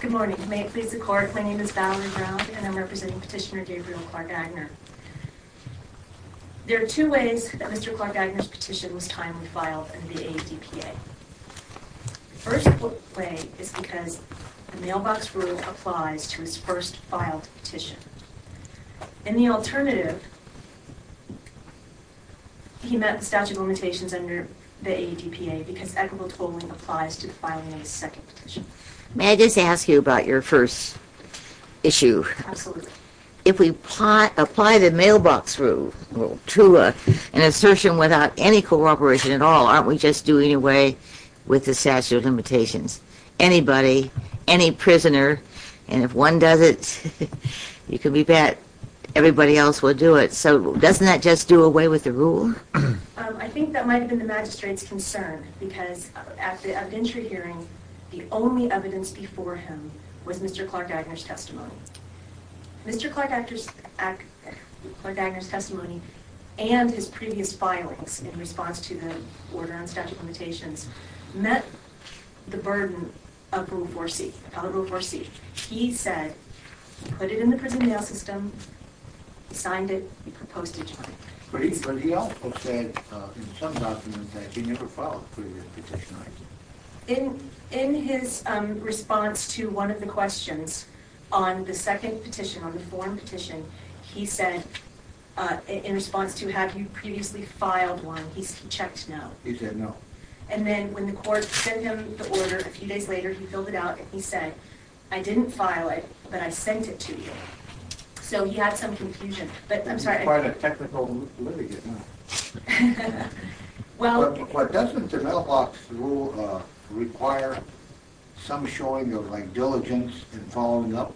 Good morning. May it please the Court, my name is Valerie Brown and I'm representing Petitioner Gabriel Clark-Aigner. There are two ways that Mr. Clark-Aigner's petition was timely filed in the ADPA. The first way is because the mailbox rule applies to his first filed petition. And the alternative, he met the statute of limitations under the ADPA because equitable totaling applies to filing a second petition. May I just ask you about your first issue? Absolutely. If we apply the mailbox rule to an assertion without any cooperation at all, aren't we just doing away with the statute of limitations? Anybody, any prisoner, and if one does it, you can bet everybody else will do it. So doesn't that just do away with the rule? I think that might have been the magistrate's concern because at the adventure hearing the only evidence before him was Mr. Clark-Aigner's testimony. Mr. Clark-Aigner's testimony and his previous filings in response to the order on statute of limitations met the burden of Rule 4C. He said, he put it in the prison mail system, he signed it, he proposed it to me. But he also said in some documents that he never filed a previous petition either. In his response to one of the questions on the second petition, on the form petition, he said, in response to, have you previously filed one, he checked no. He said no. And then when the court sent him the order a few days later, he filled it out and he said, I didn't file it, but I sent it to you. So he had some confusion, but I'm sorry. Quite a technical litigant, huh? Well... But doesn't the mailbox rule require some showing of, like, diligence in following up?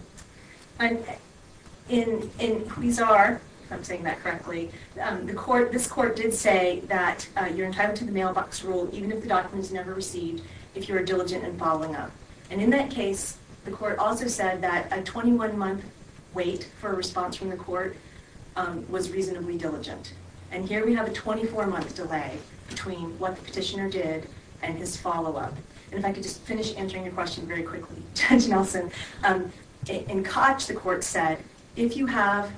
In, if I'm saying that correctly, this court did say that you're entitled to the mailbox rule even if the document is never received, if you are diligent in following up. And in that case, the court also said that a 21-month wait for a response from the court was reasonably diligent. And here we have a 24-month delay between what the petitioner did and his follow-up. And if I could just finish answering your question very quickly, Judge Nelson, in Koch, the court said, if you have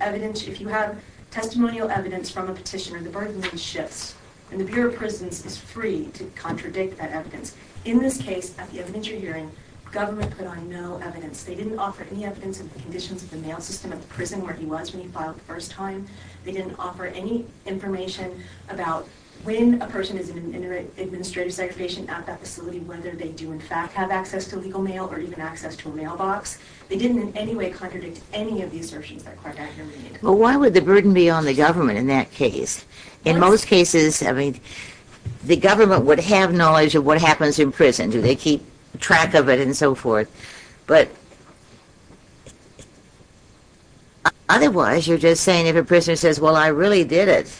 evidence, if you have testimonial evidence from a petitioner, the burden then shifts, and the Bureau of Prisons is free to contradict that evidence. In this case, at the adventure hearing, government put on no evidence. They didn't offer any evidence of the conditions of the mail system at the prison where he was when he filed the first time. They didn't offer any information about when a person is in an administrative segregation at that facility, whether they do in fact have access to legal mail or even access to a mailbox. They didn't in any way contradict any of the assertions that the court documented. Well, why would the burden be on the government in that case? In most cases, I mean, the government would have knowledge of what happens in prison. Do they keep track of it and so forth? But otherwise, you're just saying if a prisoner says, well, I really did it.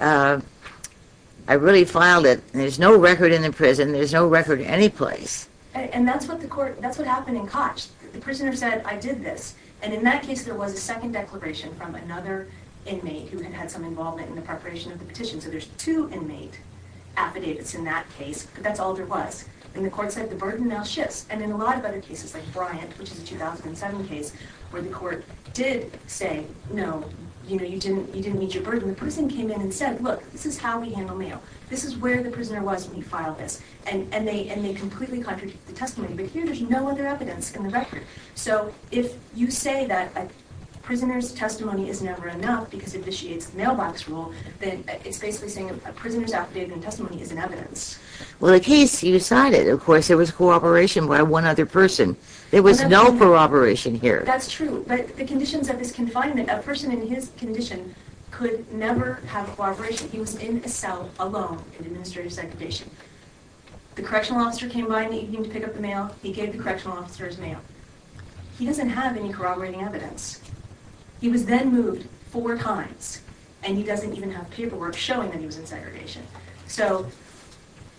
I really filed it. There's no record in the prison. There's no record anyplace. And that's what happened in Koch. The prisoner said, I did this. And in that case, there was a second declaration from another inmate who had had some involvement in the preparation of the petition. So there's two inmate affidavits in that case, but that's all there was. And the court said the burden now shifts. And in a lot of other cases, like Bryant, which is a 2007 case, where the court did say, no, you didn't meet your burden. The prison came in and said, look, this is how we handle mail. This is where the prisoner was when he filed this. And they completely contradict the testimony. But here, there's no other evidence in the record. So if you say that a prisoner's testimony is never enough because it vitiates the mailbox rule, then it's basically saying a prisoner's affidavit and testimony isn't evidence. Well, the case you decided, of course, there was cooperation by one other person. There was no corroboration here. That's true. But the conditions of this confinement, a person in his condition could never have cooperation. He was in a cell alone in administrative segregation. The correctional officer came by in the evening to pick up the mail. He gave the correctional officer his mail. He doesn't have any corroborating evidence. He was then moved four times, and he doesn't even have paperwork showing that he was in segregation. So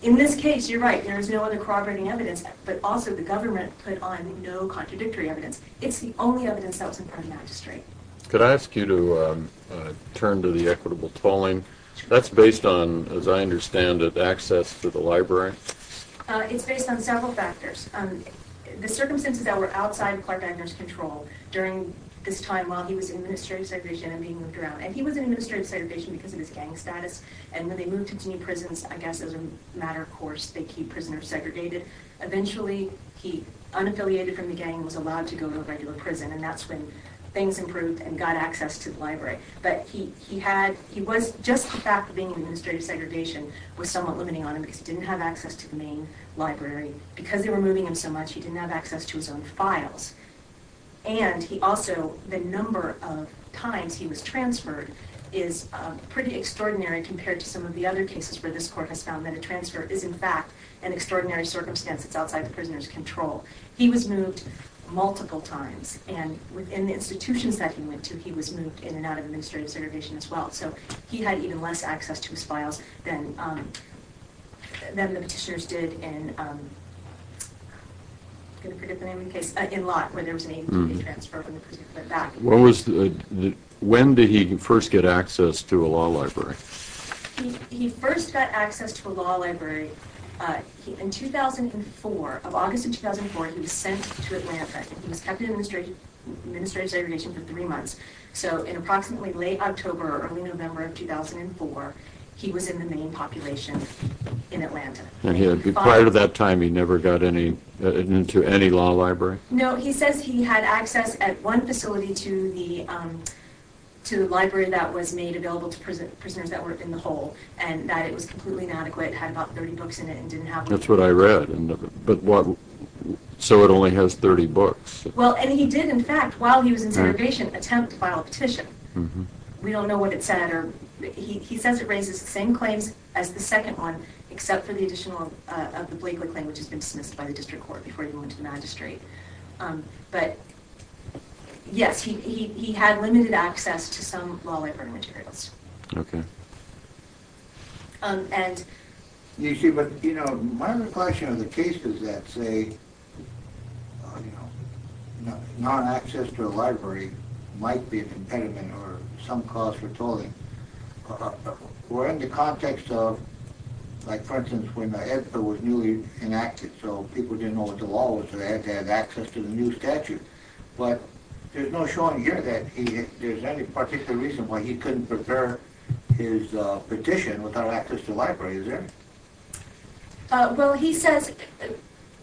in this case, you're right, there is no other corroborating evidence, but also the government put on no contradictory evidence. It's the only evidence that was in front of the magistrate. Could I ask you to turn to the equitable tolling? That's based on, as I understand it, access to the library? It's based on several factors. The circumstances that were outside Clark Agner's control during this time while he was in administrative segregation and being moved around, and he was in administrative segregation because of his gang status, and when they moved him to new prisons, I guess as a matter of course, they keep prisoners segregated. Eventually, he, unaffiliated from the gang, was allowed to go to a regular prison, and that's when things improved and got access to the library. But he had, he was, just the fact of being in administrative segregation was somewhat limiting on him because he didn't have access to the main library. Because they were moving him so much, he didn't have access to his own files. And he also, the number of times he was transferred is pretty extraordinary compared to some of the other cases where this court has found that a transfer is in fact an extraordinary circumstance that's outside the prisoner's control. He was moved multiple times. And within the institutions that he went to, he was moved in and out of administrative segregation as well. So he had even less access to his files than the petitioners did in, I'm going to forget the name of the case, in Lott, where there was an AT&T transfer when the prisoner went back. When did he first get access to a law library? He first got access to a law library in 2004. Of August of 2004, he was sent to Atlanta. He was kept in administrative segregation for three months. So in approximately late October or early November of 2004, he was in the main population in Atlanta. And prior to that time, he never got into any law library? No, he says he had access at one facility to the library that was made available to prisoners that were in the hole and that it was completely inadequate, had about 30 books in it and didn't have one. That's what I read. So it only has 30 books? Well, and he did, in fact, while he was in segregation, attempt to file a petition. We don't know what it said. He says it raises the same claims as the second one, except for the additional of the Blakely claim, which has been dismissed by the district court before he went to the magistrate. But yes, he had limited access to some law library materials. Okay. You see, but my recollection of the cases that say non-access to a library might be a impediment or some cause for tolling were in the context of, like for instance, when the EDFA was newly enacted, so people didn't know what the law was, so they had to have access to the new statute. But there's no showing here that there's any particular reason why he couldn't prepare his petition without access to a library, is there? Well, he says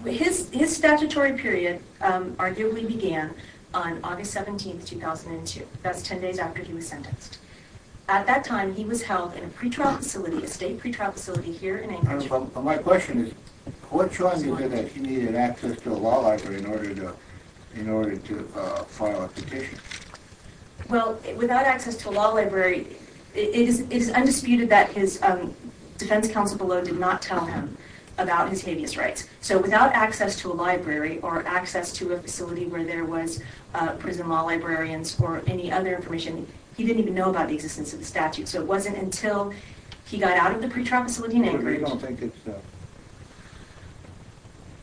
his statutory period arguably began on August 17, 2002. That's 10 days after he was sentenced. At that time, he was held in a pretrial facility, a state pretrial facility here in Anchorage. My question is, what's showing you here that he needed access to a law library in order to file a petition? Well, without access to a law library, it is undisputed that his defense counsel below did not tell him about his habeas rights. So without access to a library or access to a facility where there was prison law librarians or any other information, he didn't even know about the existence of the statute. So it wasn't until he got out of the pretrial facility in Anchorage. So you don't think it's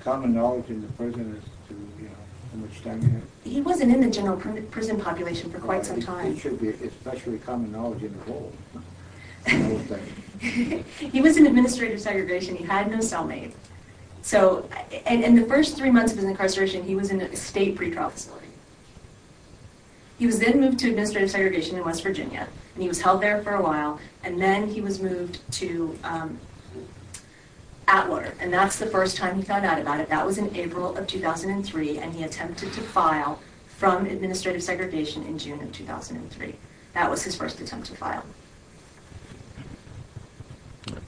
common knowledge in the prison as to how much time he had? He wasn't in the general prison population for quite some time. It should be especially common knowledge in the whole state. He was in administrative segregation. He had no cellmate. So in the first three months of his incarceration, he was in a state pretrial facility. He was then moved to administrative segregation in West Virginia, and he was held there for a while. And then he was moved to Atwater, and that's the first time he found out about it. That was in April of 2003, and he attempted to file from administrative segregation in June of 2003. That was his first attempt to file.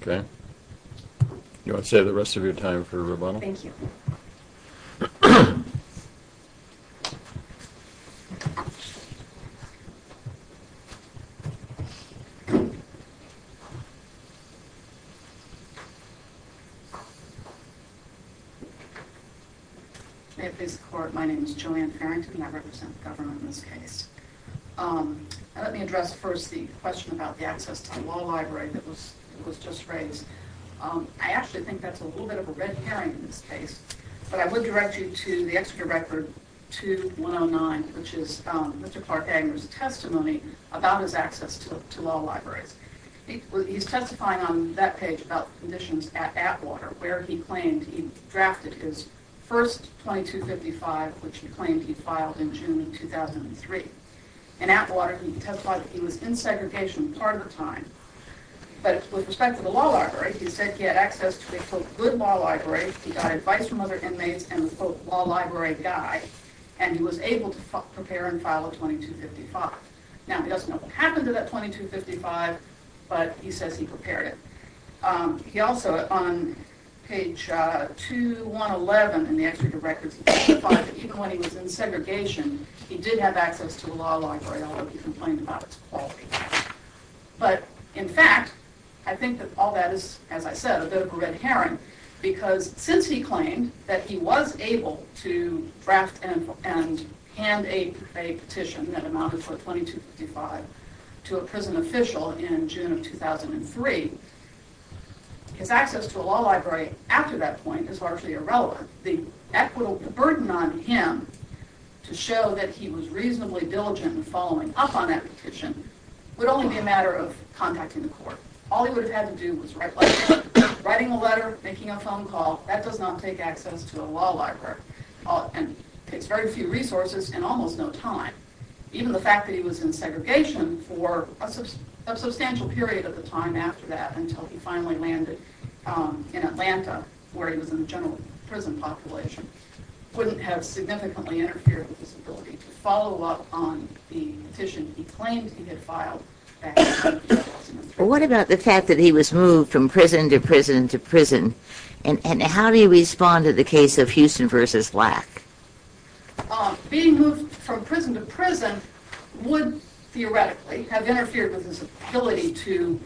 Okay. Do you want to save the rest of your time for rebuttal? Thank you. May it please the Court, my name is Joanne Farrington, and I represent the government in this case. Let me address first the question about the access to the law library that was just raised. I actually think that's a little bit of a red herring in this case, but I would direct you to the Exeter Record 2109, which is Mr. Clark Agnew's testimony about his access to law libraries. He's testifying on that page about conditions at Atwater, where he claimed he drafted his first 2255, which he claimed he filed in June of 2003. In Atwater, he testified that he was in segregation part of the time, but with respect to the law library, he said he had access to a, quote, good law library. He got advice from other inmates and a, quote, law library guide, and he was able to prepare and file a 2255. Now, he doesn't know what happened to that 2255, but he says he prepared it. He also, on page 2111 in the Exeter Records, testified that even when he was in segregation, he did have access to a law library, although he complained about its quality. But, in fact, I think that all that is, as I said, a bit of a red herring, because since he claimed that he was able to draft and hand a petition that amounted to a 2255 to a prison official in June of 2003, his access to a law library after that point is largely irrelevant. The burden on him to show that he was reasonably diligent in following up on that petition would only be a matter of contacting the court. All he would have had to do was write a letter. Writing a letter, making a phone call, that does not take access to a law library, and takes very few resources and almost no time. Even the fact that he was in segregation for a substantial period of the time after that, until he finally landed in Atlanta, where he was in the general prison population, wouldn't have significantly interfered with his ability to follow up on the petition he claimed he had filed back in June of 2003. What about the fact that he was moved from prison to prison to prison? And how do you respond to the case of Houston v. Lack? Being moved from prison to prison would, theoretically, have interfered with his ability to,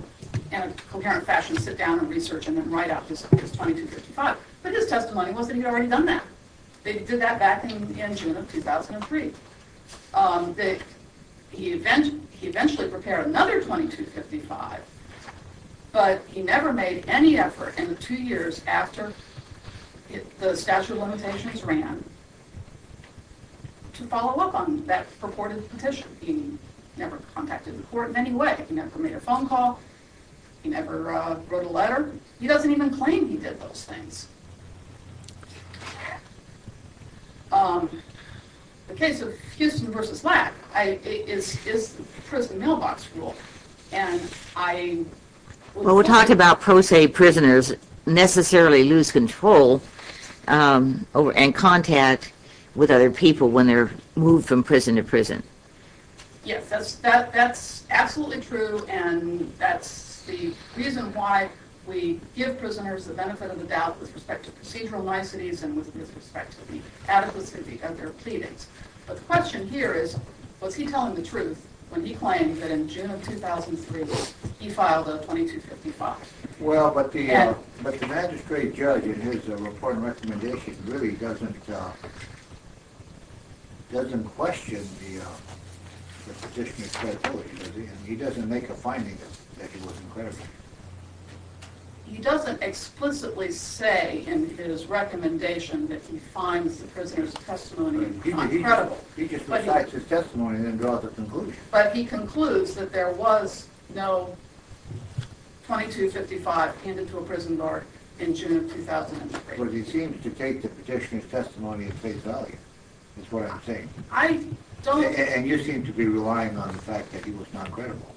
in a coherent fashion, sit down and research and then write up his 2255. But his testimony was that he had already done that. They did that back in June of 2003. He eventually prepared another 2255, but he never made any effort in the two years after the statute of limitations ran to follow up on that purported petition. He never contacted the court in any way. He never made a phone call. He never wrote a letter. He doesn't even claim he did those things. The case of Houston v. Lack is the prison mailbox rule. We're talking about pro se prisoners necessarily lose control and contact with other people when they're moved from prison to prison. Yes, that's absolutely true. And that's the reason why we give prisoners the benefit of the doubt with respect to procedural niceties and with respect to the adequacy of their pleadings. But the question here is, was he telling the truth when he claimed that in June of 2003 he filed a 2255? Well, but the magistrate judge in his report and recommendation really doesn't question the petitioner's credibility, does he? And he doesn't make a finding that he wasn't credible. He doesn't explicitly say in his recommendation that he finds the prisoner's testimony not credible. He just recites his testimony and then draws a conclusion. But he concludes that there was no 2255 handed to a prison guard in June of 2003. But he seems to take the petitioner's testimony at face value, is what I'm saying. I don't... And you seem to be relying on the fact that he was not credible.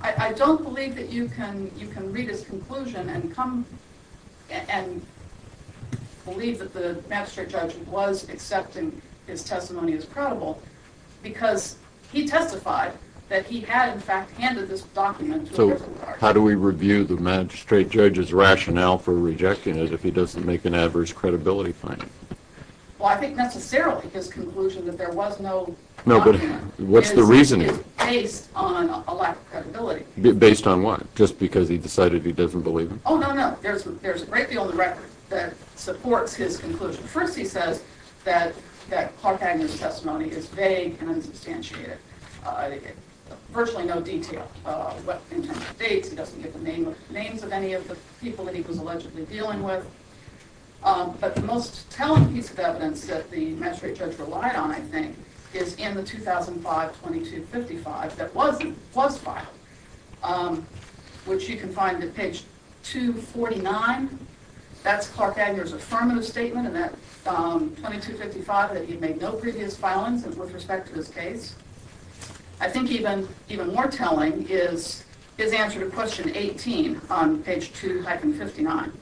I don't believe that you can read his conclusion and come and believe that the magistrate judge was accepting his testimony as credible because he testified that he had, in fact, handed this document to a prison guard. So how do we review the magistrate judge's rationale for rejecting it if he doesn't make an average credibility finding? Well, I think necessarily his conclusion that there was no document is based on a lack of credibility. Based on what? Just because he decided he doesn't believe him? Oh, no, no. There's a great deal in the record that supports his conclusion. First, he says that Clark Agnew's testimony is vague and unsubstantiated, virtually no detail. In terms of dates, he doesn't give the names of any of the people that he was allegedly dealing with. But the most telling piece of evidence that the magistrate judge relied on, I think, is in the 2005 2255 that was filed, which you can find at page 249. That's Clark Agnew's affirmative statement in that 2255 that he made no previous filings with respect to his case. I think even more telling is his answer to question 18 on page 2-59.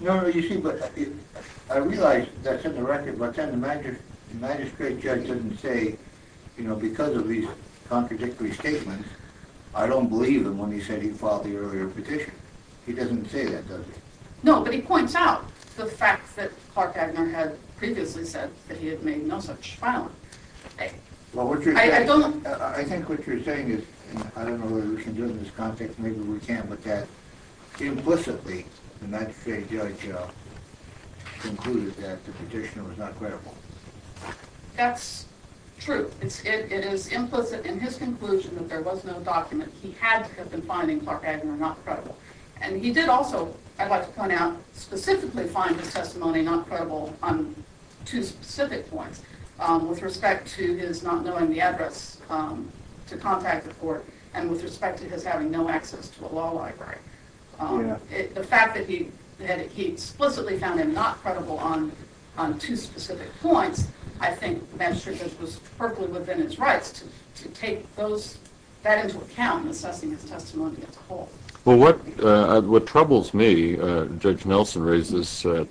No, no, you see, but I realize that's in the record, but then the magistrate judge doesn't say, you know, because of these contradictory statements, I don't believe him when he said he filed the earlier petition. He doesn't say that, does he? No, but he points out the fact that Clark Agnew had previously said that he had made no such filing. I think what you're saying is, I don't know whether we can do it in this context, maybe we can, but that implicitly the magistrate judge concluded that the petitioner was not credible. That's true. It is implicit in his conclusion that there was no document. He had to have been finding Clark Agnew not credible. And he did also, I'd like to point out, specifically find his testimony not credible on two specific points, with respect to his not knowing the address to contact the court and with respect to his having no access to a law library. The fact that he explicitly found him not credible on two specific points, I think the magistrate judge was perfectly within his rights to take that into account in assessing his testimony as a whole. Well, what troubles me, Judge Nelson raised this at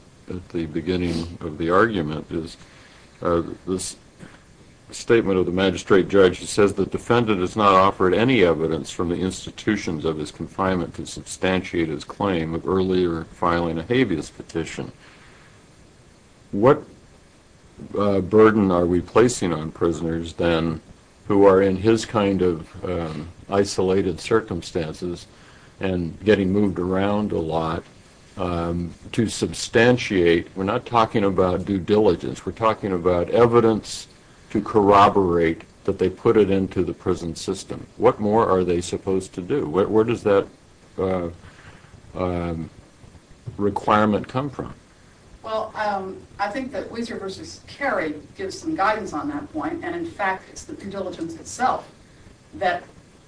the beginning of the argument, is this statement of the magistrate judge that says the defendant has not offered any evidence from the institutions of his confinement to substantiate his claim of earlier filing a habeas petition. What burden are we placing on prisoners then who are in his kind of isolated circumstances and getting moved around a lot to substantiate, we're not talking about due diligence, we're talking about evidence to corroborate that they put it into the prison system. What more are they supposed to do? Where does that requirement come from? Well, I think that Weiser v. Carey gives some guidance on that point, and in fact it's the due diligence itself that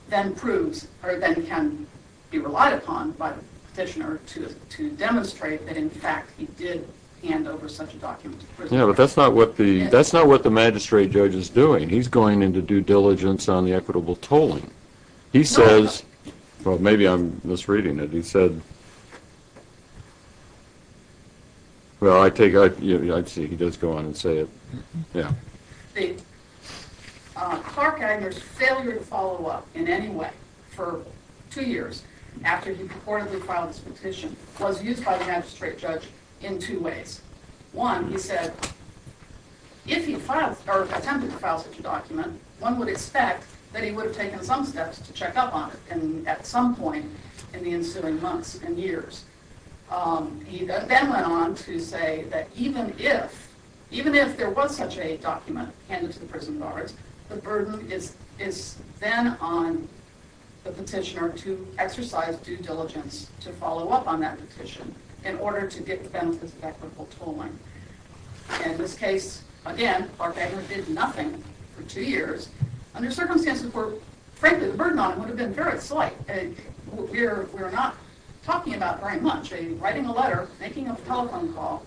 then proves or then can be relied upon by the petitioner to demonstrate that in fact he did hand over such a document to the prison. Yeah, but that's not what the magistrate judge is doing. He's going into due diligence on the equitable tolling. He says, well, maybe I'm misreading it, he said, well, I take it, I see, he does go on and say it, yeah. The Clark-Eiger's failure to follow up in any way for two years after he purportedly filed this petition was used by the magistrate judge in two ways. One, he said, if he attempted to file such a document, one would expect that he would have taken some steps to check up on it at some point in the ensuing months and years. He then went on to say that even if there was such a document handed to the prison guards, the burden is then on the petitioner to exercise due diligence to follow up on that petition in order to get the benefits of equitable tolling. In this case, again, Clark-Eiger did nothing for two years. Under circumstances where, frankly, the burden on him would have been very slight. We're not talking about very much. Writing a letter, making a telephone call,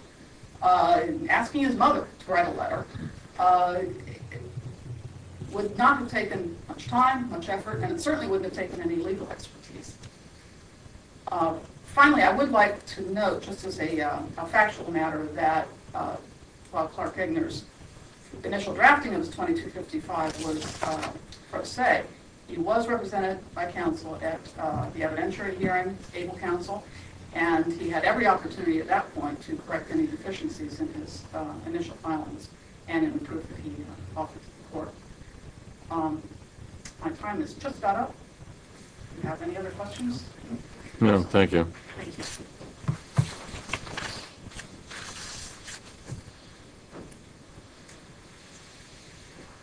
asking his mother to write a letter would not have taken much time, much effort, and it certainly wouldn't have taken any legal expertise. Finally, I would like to note, just as a factual matter, that while Clark-Eiger's initial drafting of his 2255 was pro se, he was represented by counsel at the evidentiary hearing, able counsel, and he had every opportunity at that point to correct any deficiencies in his initial filings and in the proof that he offered to the court. My time has just run out. Do you have any other questions? No, thank you.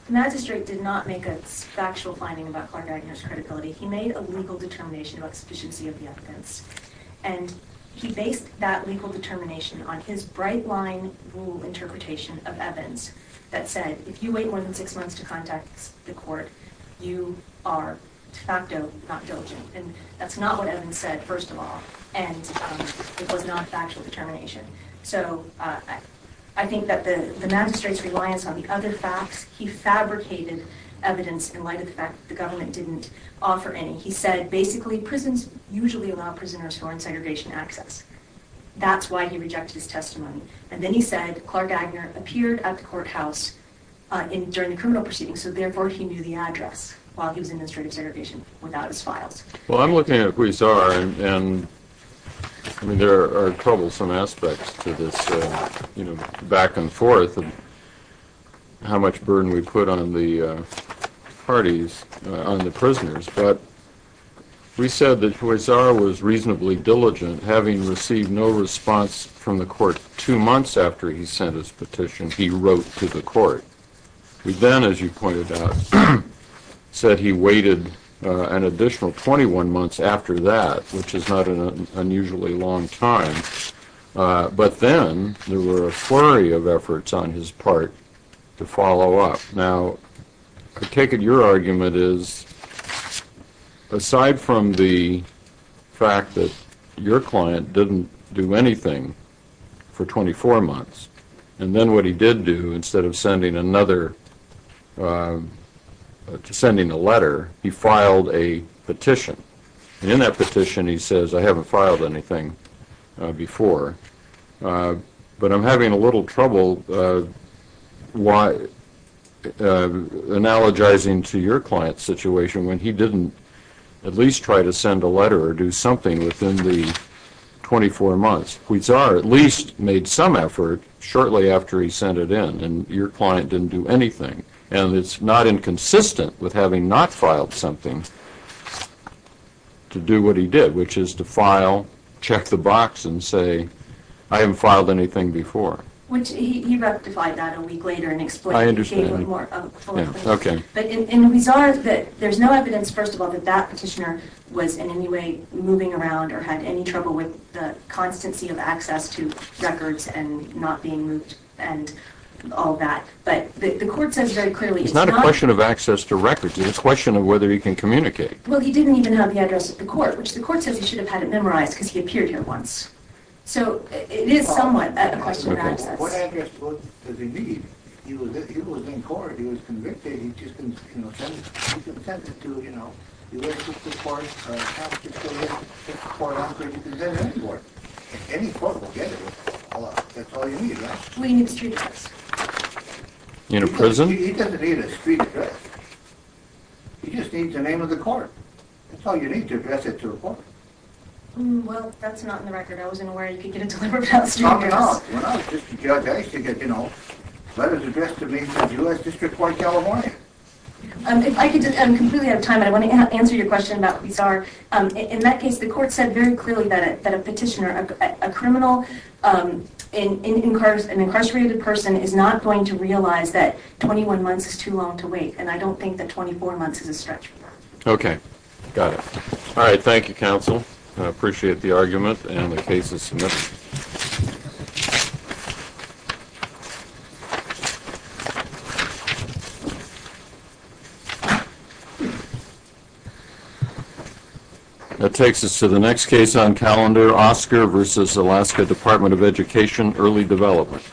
The magistrate did not make a factual finding about Clark-Eiger's credibility. He made a legal determination about sufficiency of the evidence, and he based that legal determination on his bright-line rule interpretation of Evans that said, if you wait more than six months to contact the court, you are de facto not diligent. That's not what Evans said, first of all, and it was not a factual determination. So I think that the magistrate's reliance on the other facts, he fabricated evidence in light of the fact that the government didn't offer any. He said, basically, prisons usually allow prisoners foreign segregation access. That's why he rejected his testimony. And then he said Clark-Eiger appeared at the courthouse during the criminal proceedings, so therefore he knew the address while he was in administrative segregation without his files. Well, I'm looking at Huizar, and there are troublesome aspects to this back-and-forth of how much burden we put on the parties, on the prisoners. But we said that Huizar was reasonably diligent, having received no response from the court two months after he sent his petition he wrote to the court. He then, as you pointed out, said he waited an additional 21 months after that, which is not an unusually long time. But then there were a flurry of efforts on his part to follow up. Now, I take it your argument is, aside from the fact that your client didn't do anything for 24 months, and then what he did do instead of sending a letter, he filed a petition. And in that petition he says, I haven't filed anything before, but I'm having a little trouble analogizing to your client's situation when he didn't at least try to send a letter or do something within the 24 months. Huizar at least made some effort shortly after he sent it in, and your client didn't do anything. And it's not inconsistent with having not filed something to do what he did, which is to file, check the box, and say, I haven't filed anything before. He rectified that a week later and explained it more fully. But in Huizar, there's no evidence, first of all, that that petitioner was in any way moving around or had any trouble with the constancy of access to records and not being moved and all that. But the court says very clearly it's not a question of access to records. It's a question of whether he can communicate. Well, he didn't even have the address of the court, which the court says he should have had it memorized because he appeared here once. So it is somewhat a question of access. What address does he need? He was in court. He was convicted. He just didn't, you know, send it. He could have sent it to, you know, U.S. District Court, or Appalachian County District Court, or any court. Any court will get it. That's all you need, right? Well, he needs street address. In a prison? He doesn't need a street address. He just needs the name of the court. That's all you need to address it to a court. Well, that's not in the record. I wasn't aware you could get it delivered without a street address. Well, I was just a judge. I used to get, you know, letters addressed to me from U.S. District Court in California. If I could, I'm completely out of time, but I want to answer your question about bizarre. In that case, the court said very clearly that a petitioner, a criminal, an incarcerated person is not going to realize that 21 months is too long to wait, and I don't think that 24 months is a stretch. Okay. Got it. All right. Thank you, counsel. I appreciate the argument and the cases submitted. That takes us to the next case on calendar, Oscar v. Alaska Department of Education, Early Development.